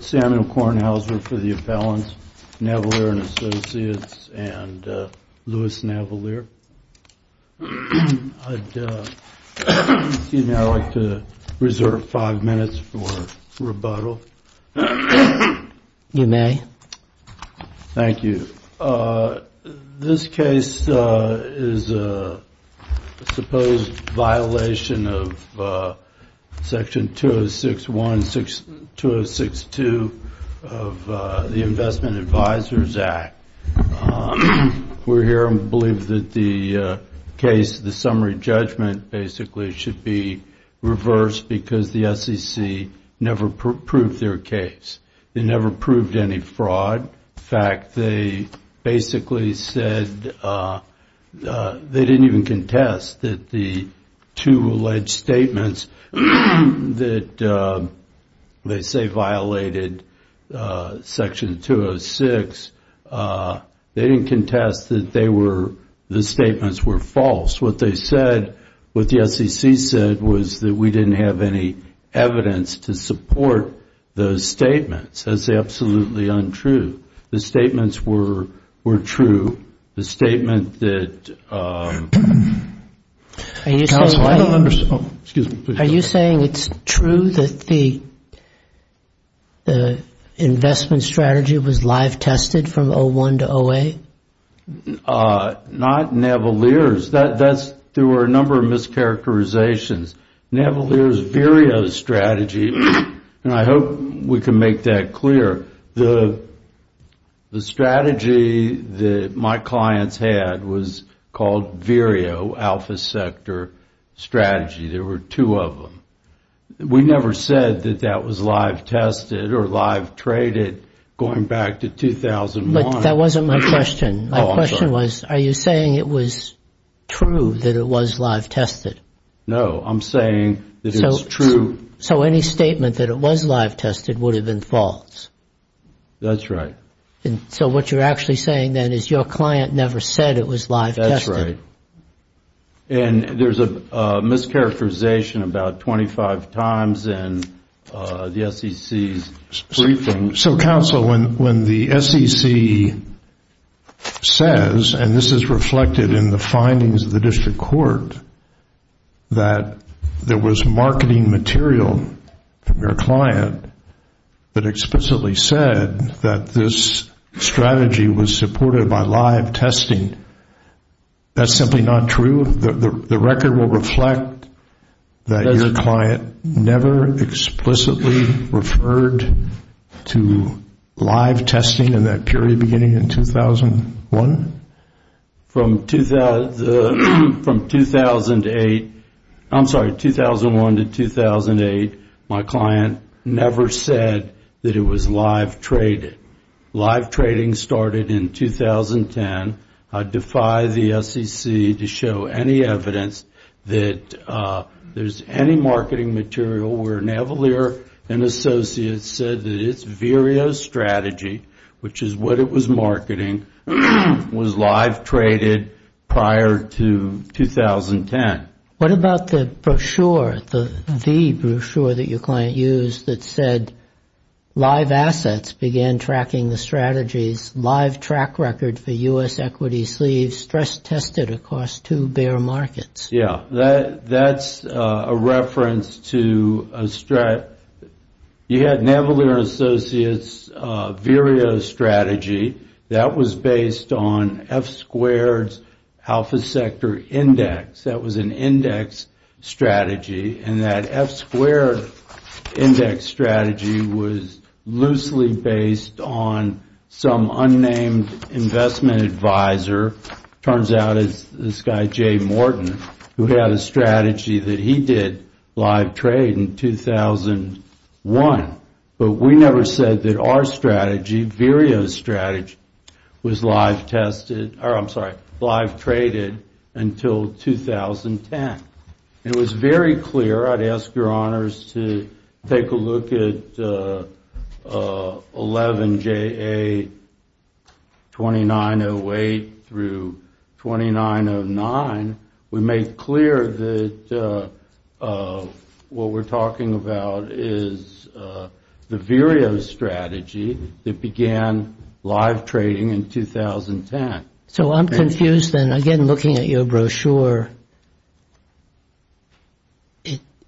Samuel Kornhauser for the appellant, Navellier & Associates, and Lewis Navellier. I'd like to reserve five minutes for rebuttal. You may. Thank you. This case is a supposed violation of Section 206.1 and 206.2 of the Investment Advisors Act. We're here and believe that the case, the summary judgment, basically should be reversed because the SEC never proved their case. They never proved any fraud. In fact, they basically said they didn't even contest that the two alleged statements that they say violated Section 206, they didn't contest that the statements were false. What they said, what the SEC said, was that we didn't have any evidence to support those statements. That's absolutely untrue. The statements were true. The statement that – Are you saying it's true that the investment strategy was live tested from 01 to OA? Not Navellier's. There were a number of mischaracterizations. Navellier's VERIO strategy, and I hope we can make that clear, the strategy that my clients had was called VERIO, Alpha Sector Strategy. There were two of them. We never said that that was live tested or live traded going back to 2001. But that wasn't my question. My question was, are you saying it was true that it was live tested? No, I'm saying that it's true. So any statement that it was live tested would have been false? That's right. So what you're actually saying then is your client never said it was live tested. That's right. So, counsel, when the SEC says, and this is reflected in the findings of the district court, that there was marketing material from your client that explicitly said that this strategy was supported by live testing, that's simply not true? The record will reflect that your client never explicitly referred to live testing in that period beginning in 2001? From 2001 to 2008, my client never said that it was live traded. Live trading started in 2010. I defy the SEC to show any evidence that there's any marketing material where Navalier & Associates said that its VERIO strategy, which is what it was marketing, was live traded prior to 2010. What about the brochure, the brochure that your client used, that said live assets began tracking the strategies, live track record for U.S. equity sleeves stress-tested across two bear markets? Yeah, that's a reference to a strategy. You had Navalier & Associates' VERIO strategy. That was based on F squared's alpha sector index. That was an index strategy, and that F squared index strategy was loosely based on some unnamed investment advisor. It turns out it's this guy, Jay Morton, who had a strategy that he did live trade in 2001. But we never said that our strategy, VERIO's strategy, was live traded until 2010. It was very clear. I'd ask your honors to take a look at 11 JA2908 through 2909. We made clear that what we're talking about is the VERIO strategy that began live trading in 2010. So I'm confused, then, again, looking at your brochure.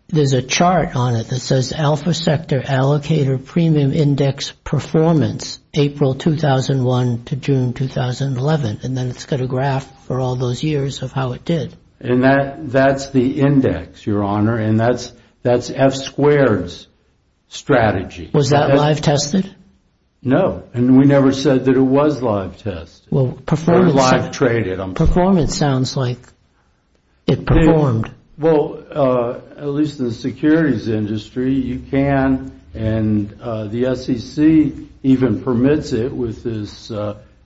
There's a chart on it that says alpha sector allocator premium index performance April 2001 to June 2011, and then it's got a graph for all those years of how it did. And that's the index, your honor, and that's F squared's strategy. Was that live tested? No, and we never said that it was live tested or live traded. Performance sounds like it performed. Well, at least in the securities industry, you can, and the SEC even permits it with this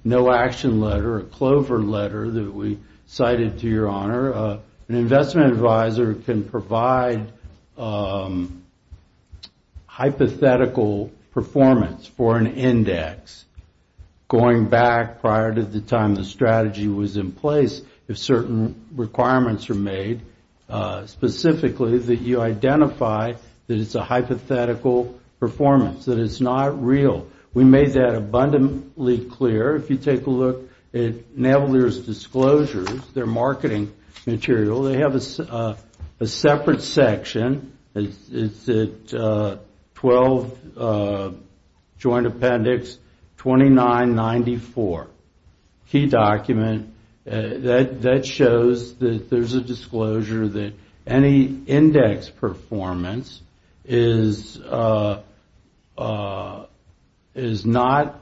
no action letter, a Clover letter that we cited to your honor. An investment advisor can provide hypothetical performance for an index going back prior to the time the strategy was in place. If certain requirements are made specifically that you identify that it's a hypothetical performance, that it's not real. We made that abundantly clear. If you take a look at Navalier's disclosures, their marketing material, they have a separate section. It's at 12 Joint Appendix 2994, key document. That shows that there's a disclosure that any index performance is not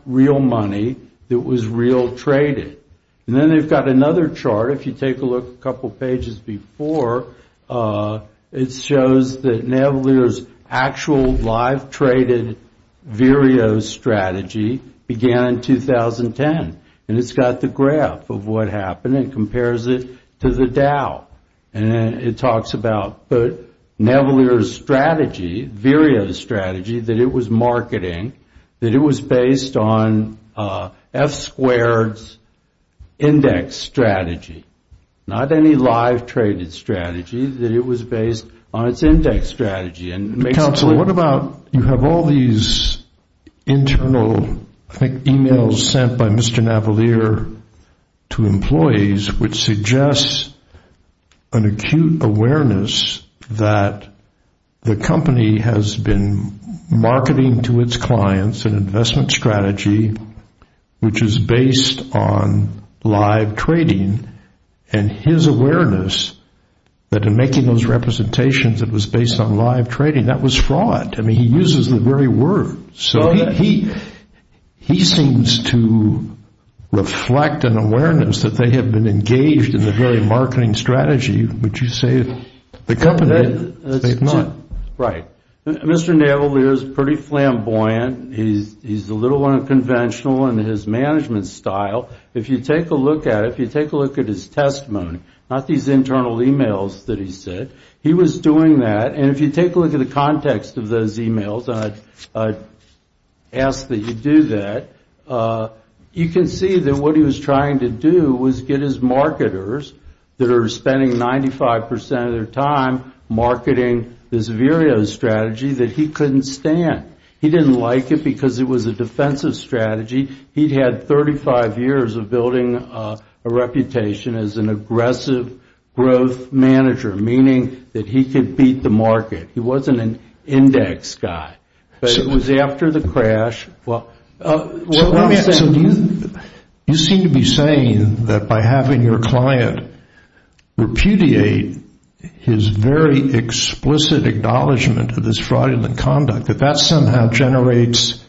real money that was real traded. And then they've got another chart. If you take a look a couple pages before, it shows that Navalier's actual live traded VREO strategy began in 2010. And it's got the graph of what happened and compares it to the Dow. And it talks about Navalier's strategy, VREO strategy, that it was marketing, that it was based on F squared's index strategy, not any live traded strategy, that it was based on its index strategy. Counsel, what about you have all these internal emails sent by Mr. Navalier to his clients, an investment strategy, which is based on live trading, and his awareness that in making those representations it was based on live trading. That was fraud. I mean, he uses the very word. So he seems to reflect an awareness that they have been engaged in the very marketing strategy, which you say the company did. Right. Mr. Navalier is pretty flamboyant. He's a little unconventional in his management style. If you take a look at it, if you take a look at his testimony, not these internal emails that he sent, he was doing that. And if you take a look at the context of those emails, I ask that you do that, you can see that what he was trying to do was get his marketers, that are spending 95% of their time marketing this VREO strategy, that he couldn't stand. He didn't like it because it was a defensive strategy. He'd had 35 years of building a reputation as an aggressive growth manager, meaning that he could beat the market. He wasn't an index guy. But it was after the crash. You seem to be saying that by having your client repudiate his very explicit acknowledgement of this fraudulent conduct, that that somehow generates,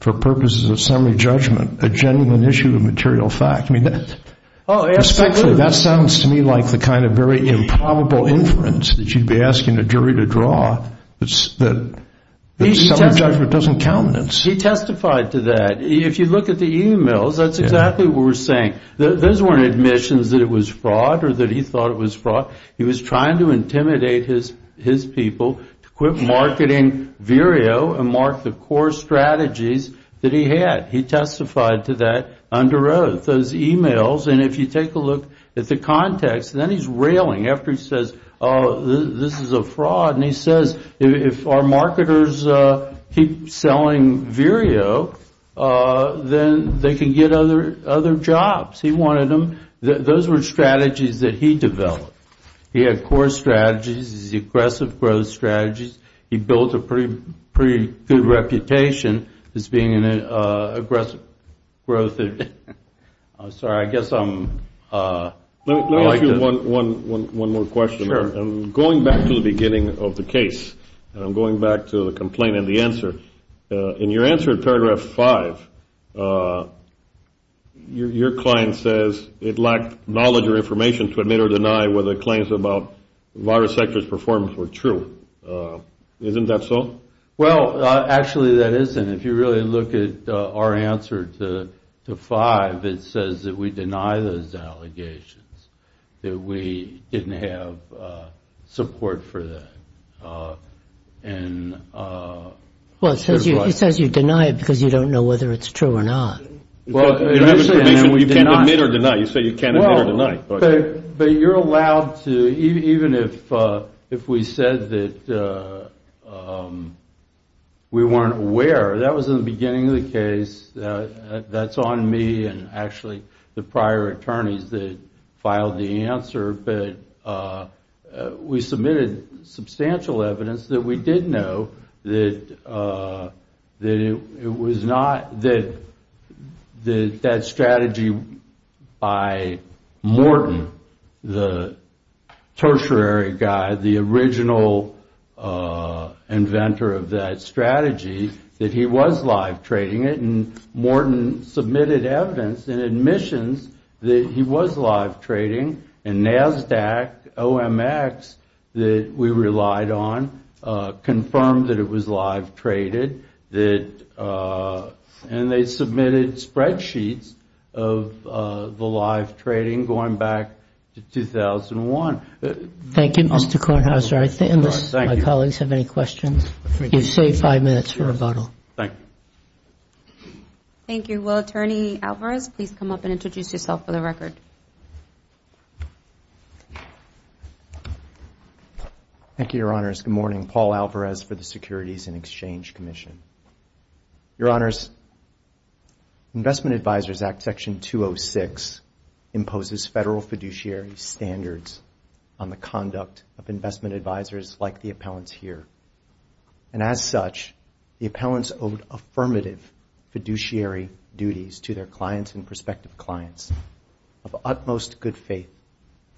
for purposes of summary judgment, a genuine issue of material fact. That sounds to me like the kind of very improbable inference that you'd be asking a jury to draw. That summary judgment doesn't count. He testified to that. If you look at the emails, that's exactly what we're saying. Those weren't admissions that it was fraud or that he thought it was fraud. He was trying to intimidate his people to quit marketing VREO and mark the core strategies that he had. He testified to that under oath, those emails. And if you take a look at the context, then he's railing after he says, oh, this is a fraud. And he says, if our marketers keep selling VREO, then they can get other jobs. He wanted them. Those were strategies that he developed. He had core strategies. He had aggressive growth strategies. He built a pretty good reputation as being an aggressive growth. I'm sorry. I guess I'm – Let me ask you one more question. Sure. I'm going back to the beginning of the case. I'm going back to the complaint and the answer. In your answer in paragraph 5, your client says it lacked knowledge or information to admit or deny whether claims about virus sectors performed were true. Isn't that so? Well, actually, that is. And if you really look at our answer to 5, it says that we deny those allegations, that we didn't have support for that. And – Well, it says you deny it because you don't know whether it's true or not. You can't admit or deny. You say you can't admit or deny. But you're allowed to – even if we said that we weren't aware. That was in the beginning of the case. That's on me and actually the prior attorneys that filed the answer. But we submitted substantial evidence that we did know that it was not – that that strategy by Morton, the tertiary guy, the original inventor of that strategy, that he was live trading it. And Morton submitted evidence and admissions that he was live trading. And NASDAQ, OMX, that we relied on, confirmed that it was live traded. And they submitted spreadsheets of the live trading going back to 2001. Thank you, Mr. Kornhauser. My colleagues have any questions? You have five minutes for rebuttal. Thank you. Thank you. Will Attorney Alvarez please come up and introduce yourself for the record? Thank you, Your Honors. Good morning. Paul Alvarez for the Securities and Exchange Commission. Your Honors, Investment Advisors Act Section 206 imposes federal fiduciary standards on the conduct of investment advisors like the appellants here. And as such, the appellants owe affirmative fiduciary duties to their clients and prospective clients of utmost good faith,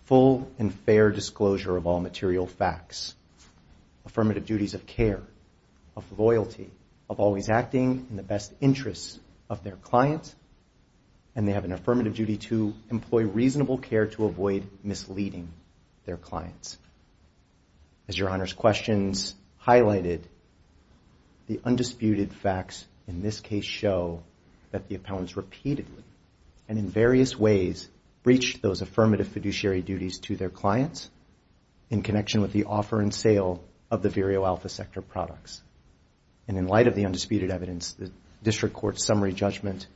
full and fair disclosure of all material facts, affirmative duties of care, of loyalty, of always acting in the best interests of their clients, and they have an affirmative duty to employ reasonable care to avoid misleading their clients. As Your Honors' questions highlighted, the undisputed facts in this case show that the appellants repeatedly and in various ways breached those affirmative fiduciary duties to their clients in connection with the offer and sale of the Vero Alpha Sector products. And in light of the undisputed evidence, the district court's summary judgment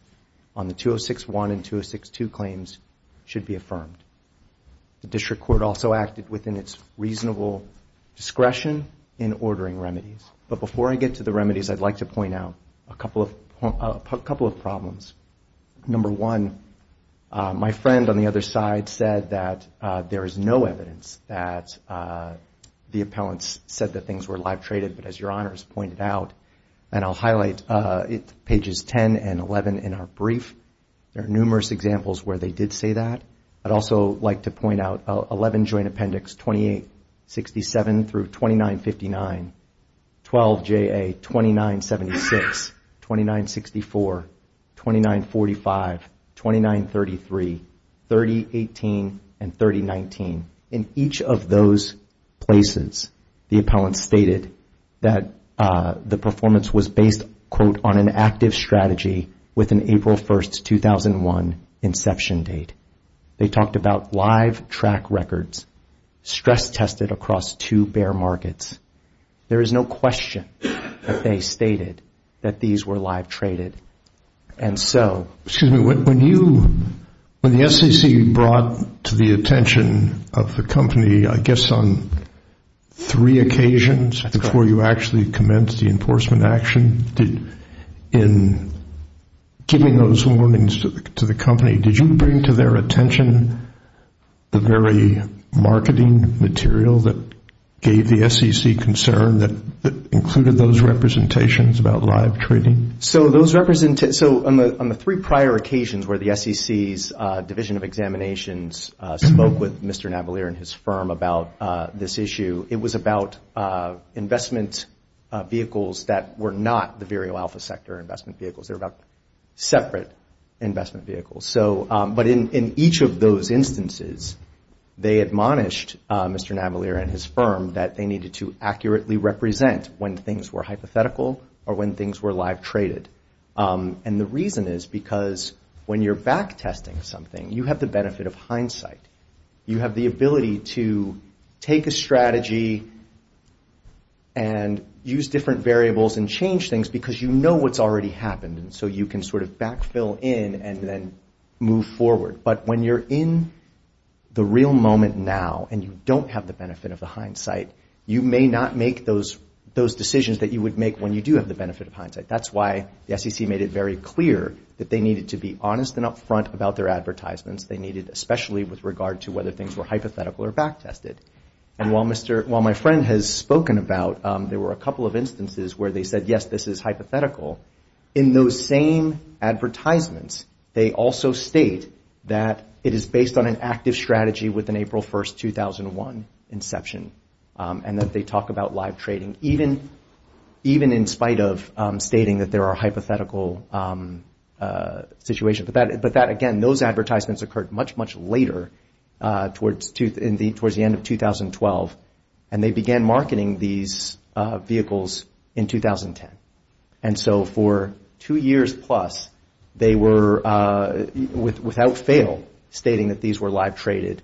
on the 206-1 and 206-2 claims should be affirmed. The district court also acted within its reasonable discretion in ordering remedies. But before I get to the remedies, I'd like to point out a couple of problems. Number one, my friend on the other side said that there is no evidence that the appellants said that things were live traded. But as Your Honors pointed out, and I'll highlight pages 10 and 11 in our brief, there are numerous examples where they did say that. I'd also like to point out 11 Joint Appendix 2867 through 2959, 12 JA 2976, 2964, 2945, 2933, 3018, and 3019. In each of those places, the appellants stated that the performance was based, quote, on an active strategy with an April 1, 2001, inception date. They talked about live track records, stress tested across two bear markets. There is no question that they stated that these were live traded. Excuse me, when the SEC brought to the attention of the company, I guess on three occasions before you actually commenced the enforcement action, in giving those warnings to the company, did you bring to their attention the very marketing material that gave the SEC concern that included those representations about live trading? So, on the three prior occasions where the SEC's Division of Examinations spoke with Mr. Navalier and his firm about this issue, it was about investment vehicles that were not the verial alpha sector investment vehicles. They were about separate investment vehicles. But in each of those instances, they admonished Mr. Navalier and his firm that they needed to accurately represent when things were hypothetical or when things were live traded. And the reason is because when you're backtesting something, you have the benefit of hindsight. You have the ability to take a strategy and use different variables and change things because you know what's already happened, and so you can sort of backfill in and then move forward. But when you're in the real moment now and you don't have the benefit of the hindsight, you may not make those decisions that you would make when you do have the benefit of hindsight. That's why the SEC made it very clear that they needed to be honest and upfront about their advertisements. They needed especially with regard to whether things were hypothetical or backtested. And while my friend has spoken about, there were a couple of instances where they said, yes, this is hypothetical. In those same advertisements, they also state that it is based on an active strategy with an April 1, 2001 inception, and that they talk about live trading, even in spite of stating that there are hypothetical situations. But that, again, those advertisements occurred much, much later towards the end of 2012, and they began marketing these vehicles in 2010. And so for two years plus, they were, without fail, stating that these were live traded.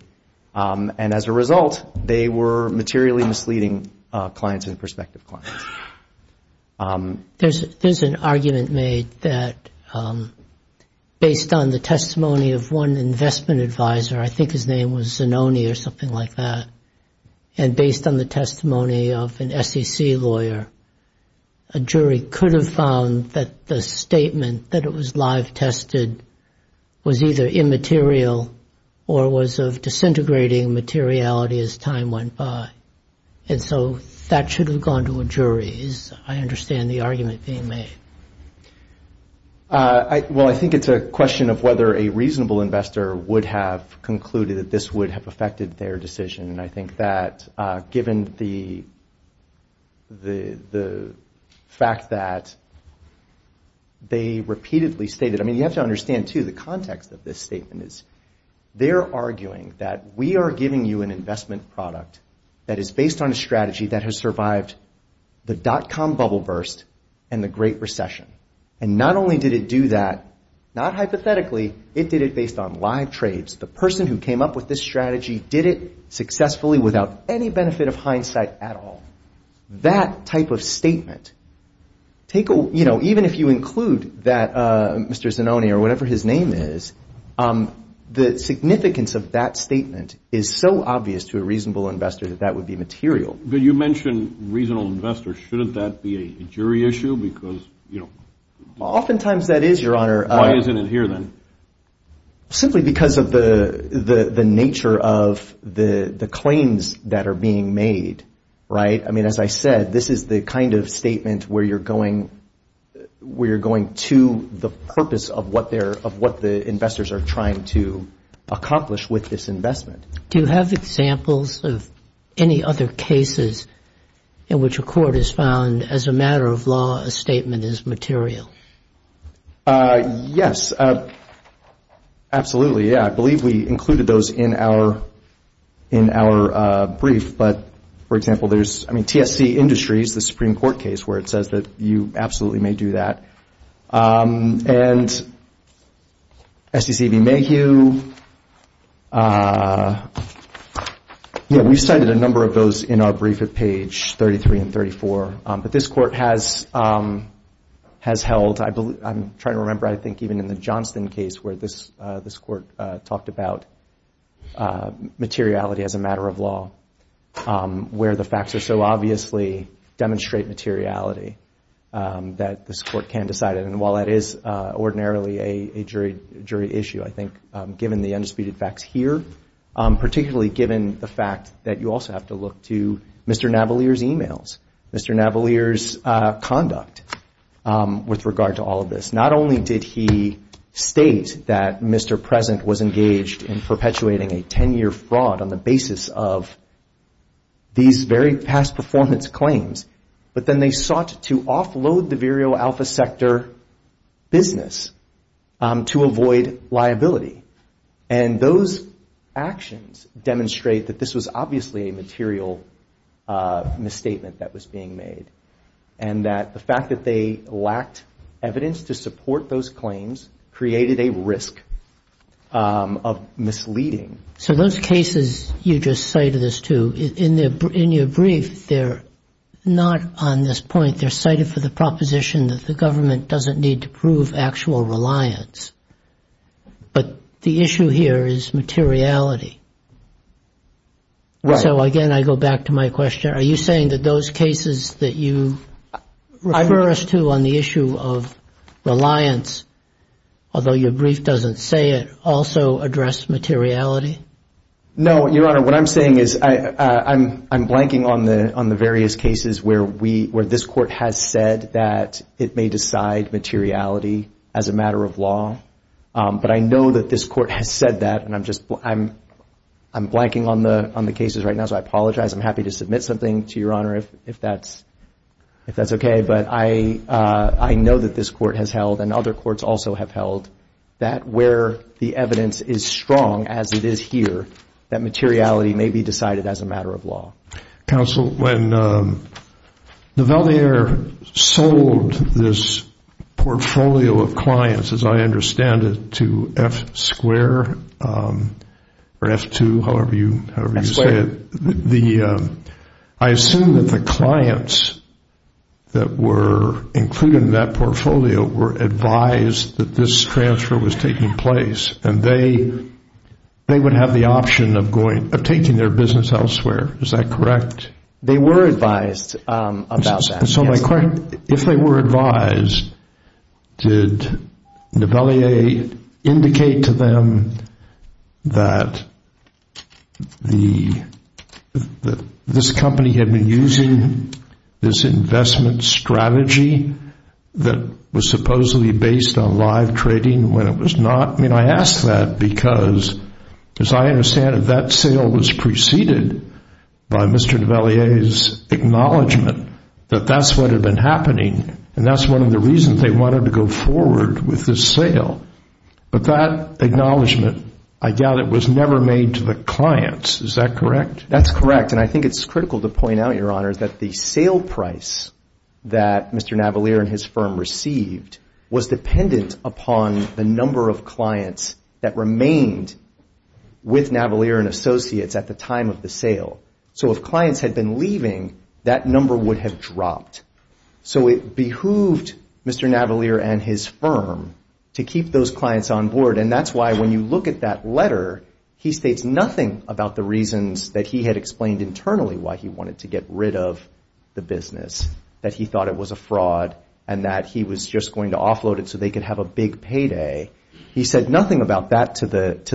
And as a result, they were materially misleading clients and prospective clients. There's an argument made that based on the testimony of one investment advisor, I think his name was Zanoni or something like that, and based on the testimony of an SEC lawyer, a jury could have found that the statement that it was live tested was either immaterial or was of disintegrating materiality as time went by. And so that should have gone to a jury. I understand the argument being made. Well, I think it's a question of whether a reasonable investor would have concluded that this would have affected their decision. And I think that given the fact that they repeatedly stated, I mean, you have to understand, too, the context of this statement is they're arguing that we are giving you an investment product that is based on a strategy that has survived the dot-com bubble burst and the Great Recession. And not only did it do that, not hypothetically, it did it based on live trades. The person who came up with this strategy did it successfully without any benefit of hindsight at all. That type of statement, even if you include that Mr. Zanoni or whatever his name is, the significance of that statement is so obvious to a reasonable investor that that would be material. But you mentioned reasonable investors. Shouldn't that be a jury issue? Oftentimes that is, Your Honor. Why isn't it here then? Simply because of the nature of the claims that are being made, right? I mean, as I said, this is the kind of statement where you're going to the purpose of what the investors are trying to accomplish with this investment. Do you have examples of any other cases in which a court has found as a matter of law a statement is material? Yes. Absolutely, yeah. I believe we included those in our brief. But, for example, there's TSC Industries, the Supreme Court case where it says that you absolutely may do that. And SDC v. Mayhew. Yeah, we've cited a number of those in our brief at page 33 and 34. But this court has held, I'm trying to remember, I think even in the Johnston case where this court talked about materiality as a matter of law, where the facts are so obviously demonstrate materiality that this court can't decide it. And while that is ordinarily a jury issue, I think given the undisputed facts here, particularly given the fact that you also have to look to Mr. Navalier's e-mails, Mr. Navalier's conduct with regard to all of this, not only did he state that Mr. Present was engaged in perpetuating a 10-year fraud on the basis of these very past performance claims, but then they sought to offload the Vero Alpha Sector business to avoid liability. And those actions demonstrate that this was obviously a material misstatement that was being made. And that the fact that they lacked evidence to support those claims created a risk of misleading. So those cases you just cited us to, in your brief, they're not on this point. They're cited for the proposition that the government doesn't need to prove actual reliance. But the issue here is materiality. So again, I go back to my question. Are you saying that those cases that you refer us to on the issue of reliance, although your brief doesn't say it, also address materiality? No, Your Honor, what I'm saying is I'm blanking on the various cases where this court has said that it may decide materiality as a matter of law. But I know that this court has said that, and I'm blanking on the cases right now, so I apologize. I'm happy to submit something to Your Honor if that's okay. But I know that this court has held, and other courts also have held, that where the evidence is strong, as it is here, that materiality may be decided as a matter of law. Counsel, when Nivellier sold this portfolio of clients, as I understand it, to F2, however you say it, I assume that the clients that were included in that portfolio were advised that this transfer was taking place, and they would have the option of taking their business elsewhere. Is that correct? And so my question, if they were advised, did Nivellier indicate to them that this company had been using this investment strategy that was supposedly based on live trading when it was not? I mean, I ask that because, as I understand it, that sale was preceded by Mr. Nivellier's acknowledgement that that's what had been happening, and that's one of the reasons they wanted to go forward with this sale. But that acknowledgement, I doubt it, was never made to the clients. Is that correct? That's correct, and I think it's critical to point out, Your Honor, that the sale price that Mr. Nivellier and his firm received was dependent upon the number of clients that remained with Nivellier and Associates at the time of the sale. So if clients had been leaving, that number would have dropped. So it behooved Mr. Nivellier and his firm to keep those clients on board, and that's why when you look at that letter, he states nothing about the reasons that he had explained internally why he wanted to get rid of the business, that he thought it was a fraud and that he was just going to offload it so they could have a big payday. He said nothing about that to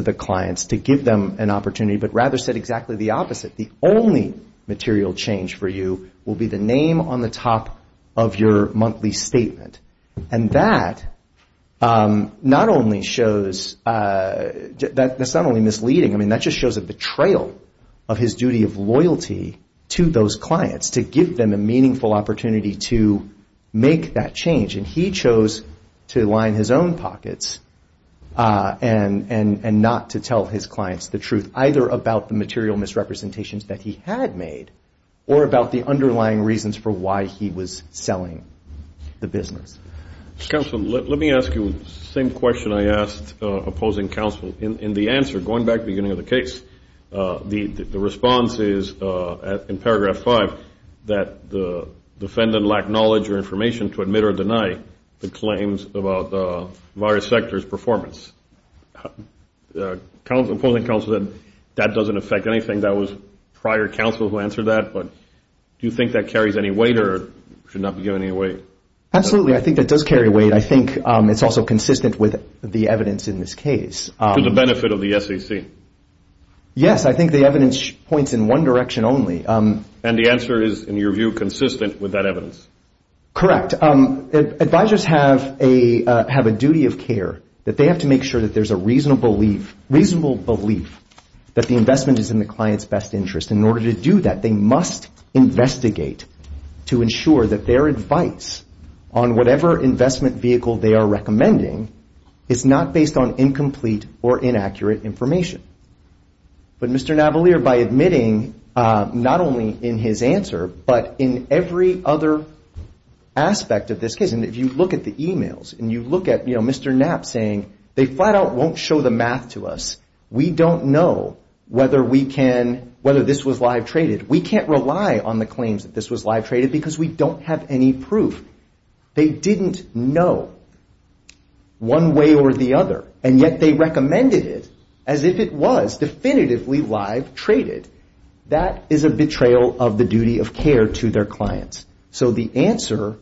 the clients to give them an opportunity, but rather said exactly the opposite. The only material change for you will be the name on the top of your monthly statement. And that not only shows, that's not only misleading, I mean, that just shows a betrayal of his duty of loyalty to those clients to give them a meaningful opportunity to make that change. And he chose to line his own pockets and not to tell his clients the truth, either about the material misrepresentations that he had made, or about the underlying reasons for why he was selling the business. Counsel, let me ask you the same question I asked opposing counsel. In the answer, going back to the beginning of the case, the response is in paragraph five, that the defendant lacked knowledge or information to admit or deny the claims about the virus sector's performance. Opposing counsel said that doesn't affect anything. That was prior counsel who answered that, but do you think that carries any weight or should not be given any weight? Absolutely. I think that does carry weight. I think it's also consistent with the evidence in this case. To the benefit of the SEC? Yes, I think the evidence points in one direction only. And the answer is, in your view, consistent with that evidence? Correct. Advisors have a duty of care that they have to make sure that there's a reasonable belief that the investment is in the client's best interest. In order to do that, they must investigate to ensure that their advice on whatever investment vehicle they are recommending is not based on incomplete or inaccurate information. But Mr. Navalier, by admitting not only in his answer, but in every other aspect of this case, and if you look at the e-mails, and you look at Mr. Knapp saying, they flat out won't show the math to us. We don't know whether this was live traded. We can't rely on the claims that this was live traded because we don't have any proof. They didn't know one way or the other, and yet they recommended it as if it was definitively live traded. That is a betrayal of the duty of care to their clients. So the answer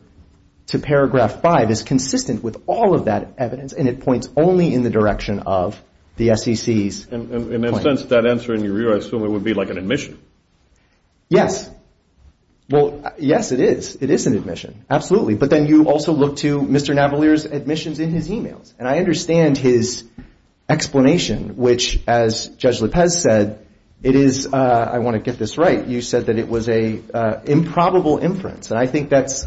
to paragraph five is consistent with all of that evidence, and it points only in the direction of the SEC's claim. And in a sense, that answer, in your view, I assume it would be like an admission. Yes. Well, yes, it is. It is an admission. Absolutely. But then you also look to Mr. Navalier's admissions in his e-mails. And I understand his explanation, which, as Judge Lippez said, it is, I want to get this right, you said that it was an improbable inference, and I think that's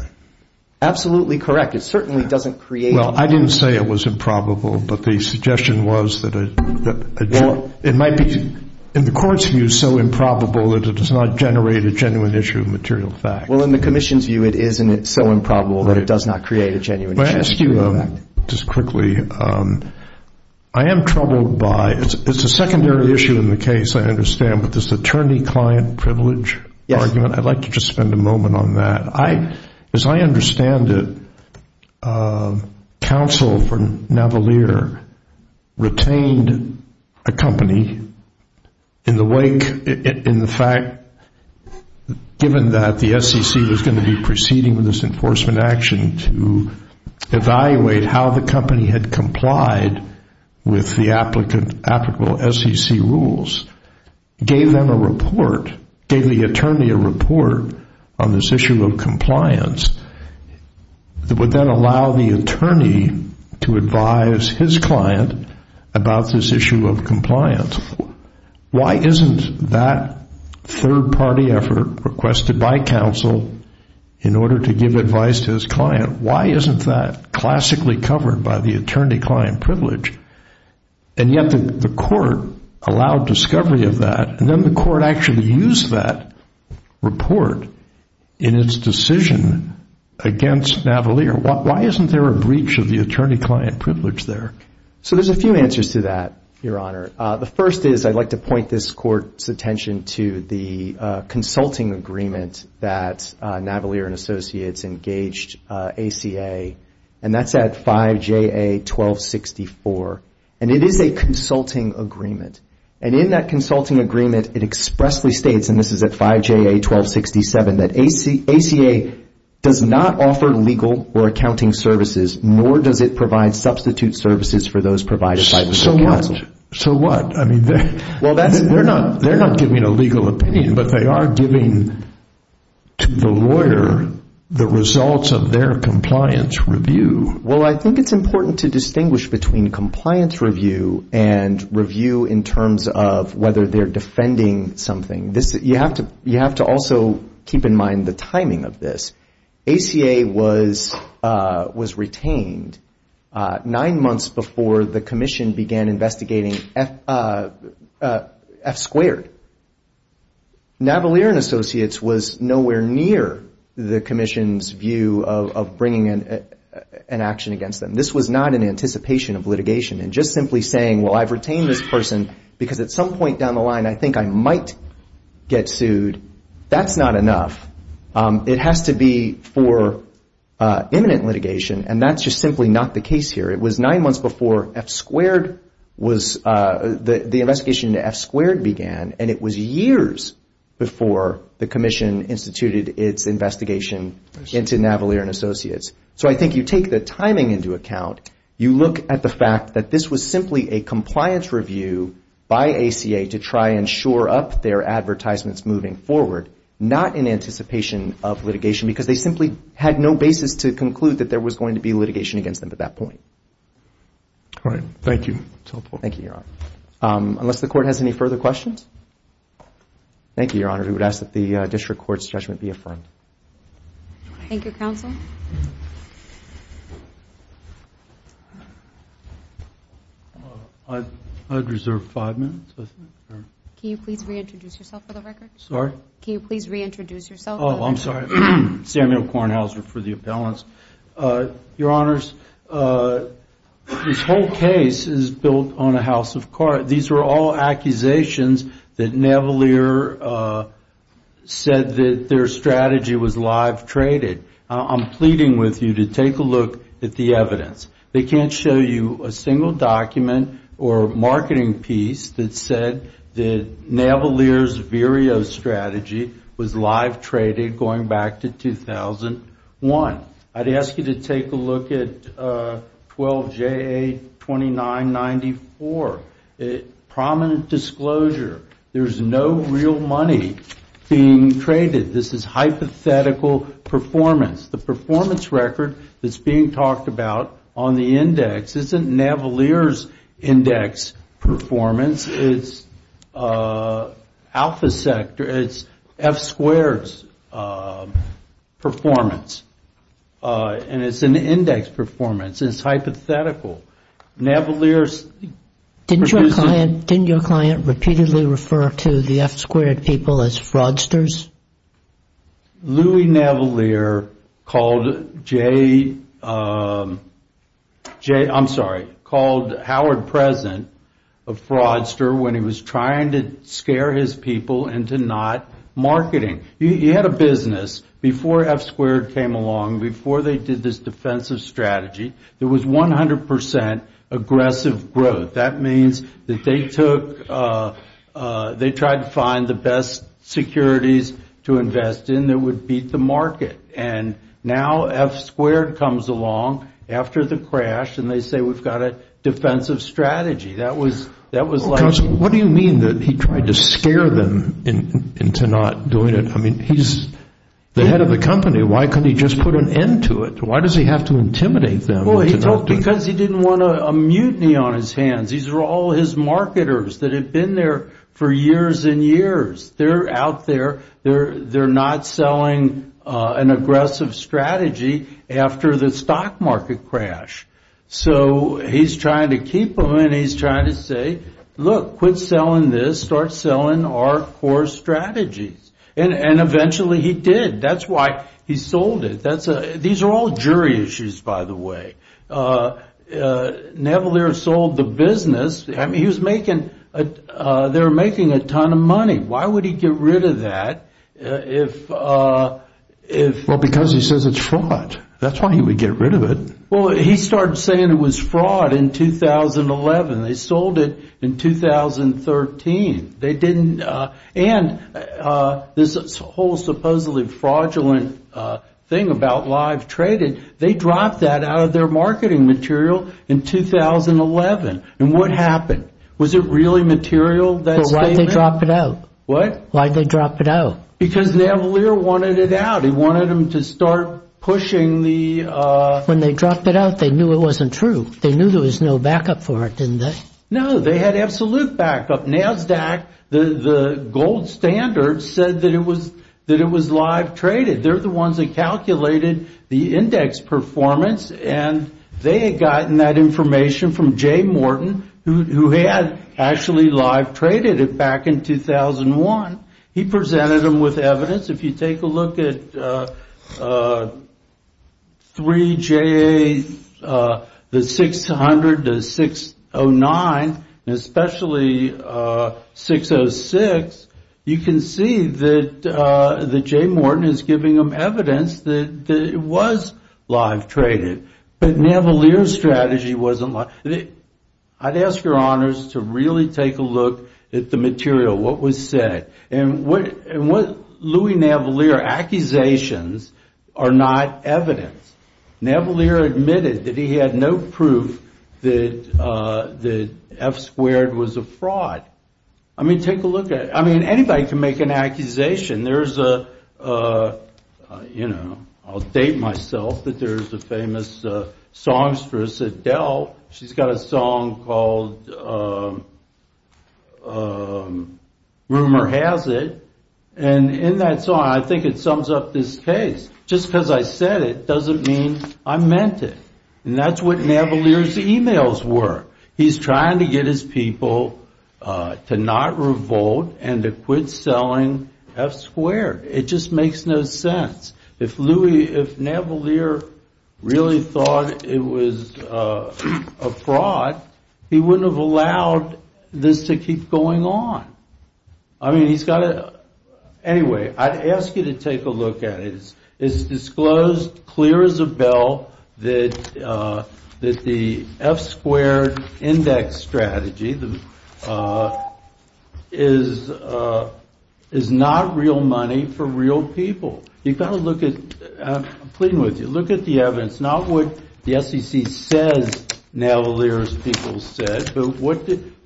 absolutely correct. It certainly doesn't create an issue. Well, I didn't say it was improbable, but the suggestion was that it might be, in the Court's view, so improbable that it does not generate a genuine issue of material fact. Well, in the Commission's view, it is, and it's so improbable that it does not create a genuine issue of material fact. May I ask you, just quickly, I am troubled by, it's a secondary issue in the case, I understand, but this attorney-client privilege argument, I'd like to just spend a moment on that. As I understand it, counsel for Navalier retained a company in the wake, in the fact, given that the SEC was going to be proceeding with this enforcement action to evaluate how the company had complied with the applicable SEC rules, gave them a report, gave the attorney a report on this issue of compliance, that would then allow the attorney to advise his client about this issue of compliance. Why isn't that third-party effort requested by counsel in order to give advice to his client, why isn't that classically covered by the attorney-client privilege? And yet the Court allowed discovery of that, and then the Court actually used that report in its decision against Navalier. Why isn't there a breach of the attorney-client privilege there? So there's a few answers to that, Your Honor. The first is, I'd like to point this Court's attention to the consulting agreement that Navalier & Associates engaged ACA, and that's at 5JA 1264, and it is a consulting agreement. And in that consulting agreement, it expressly states, and this is at 5JA 1267, that ACA does not offer legal or accounting services, nor does it provide substitute services for those provided by the counsel. So what? They're not giving a legal opinion, but they are giving the lawyer the results of their compliance review. Well, I think it's important to distinguish between compliance review and review in terms of whether they're defending something. You have to also keep in mind the timing of this. ACA was retained nine months before the Commission began investigating F squared. Navalier & Associates was nowhere near the Commission's view of bringing an action against them. This was not in anticipation of litigation, and just simply saying, well, I've retained this person because at some point down the line, I think I might get sued, that's not enough. It has to be for imminent litigation, and that's just simply not the case here. It was nine months before F squared was, the investigation into F squared began, and it was years before the Commission instituted its investigation into Navalier & Associates. So I think you take the timing into account. You look at the fact that this was simply a compliance review by ACA to try and shore up their advertisements moving forward, not in anticipation of litigation, because they simply had no basis to conclude that there was going to be litigation against them at that point. Thank you, Your Honor. I'd reserve five minutes. Can you please reintroduce yourself for the record? Oh, I'm sorry. Samuel Kornhauser for the appellants. Your Honors, this whole case is built on a house of cards. These are all accusations that Navalier said that their strategy was live traded. I'm pleading with you to take a look at the evidence. They can't show you a single document or marketing piece that said that Navalier's Vireo strategy was live traded going back to 2001. I'd ask you to take a look at 12 JA 2994. Prominent disclosure. There's no real money being traded. This is hypothetical performance. The performance record that's being talked about on the index isn't Navalier's index performance. It's Alpha Sector. It's F Squared's performance. And it's an index performance. It's hypothetical. Didn't your client repeatedly refer to the F Squared people as fraudsters? Louis Navalier called Howard President a fraudster when he was trying to scare his people into not marketing. He had a business. Before F Squared came along, before they did this defensive strategy, there was 100% aggressive growth. That means that they tried to find the best securities to invest in that would beat the market. And now F Squared comes along after the crash and they say we've got a defensive strategy. What do you mean that he tried to scare them into not doing it? He's the head of the company. Why couldn't he just put an end to it? Because he didn't want a mutiny on his hands. These are all his marketers that have been there for years and years. They're out there. They're not selling an aggressive strategy after the stock market crash. So he's trying to keep them and he's trying to say, look, quit selling this, start selling our core strategies. And eventually he did. That's why he sold it. These are all jury issues, by the way. Navalier sold the business. They were making a ton of money. Why would he get rid of that? Because he says it's fraud. That's why he would get rid of it. He started saying it was fraud in 2011. They sold it in 2013. And this whole supposedly fraudulent thing about live trading, they dropped that out of their marketing material in 2011. And what happened? Was it really material? Why did they drop it out? Because Navalier wanted it out. He wanted them to start pushing the... When they dropped it out, they knew it wasn't true. They knew there was no backup for it, didn't they? No, they had absolute backup. NASDAQ, the gold standard, said that it was live traded. They're the ones that calculated the index performance. And they had gotten that information from Jay Morton, who had actually live traded it back in 2001. He presented them with evidence. If you take a look at 3JA, the 600, the 609, and especially 606, you can see that Jay Morton is giving them evidence that it was live traded. But Navalier's strategy wasn't. I'd ask your honors to really take a look at the material, what was said. And what Louis Navalier's accusations are not evidence. Navalier admitted that he had no proof that F squared was a fraud. I mean, take a look at it. I mean, anybody can make an accusation. I'll date myself that there's a famous songstress, Adele. She's got a song called Rumor Has It. And in that song, I think it sums up this case. Just because I said it doesn't mean I meant it. And that's what Navalier's emails were. He's trying to get his people to not revolt and to quit selling F squared. It just makes no sense. If Navalier really thought it was a fraud, he wouldn't have allowed this to keep going on. Anyway, I'd ask you to take a look at it. It's disclosed clear as a bell that the F squared index strategy is not real money for real people. You've got to look at, I'm pleading with you, look at the evidence. Not what the SEC says Navalier's people said, but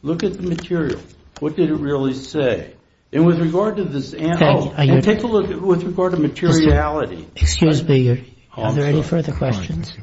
look at the material. What did it really say? And with regard to materiality. Excuse me, are there any further questions?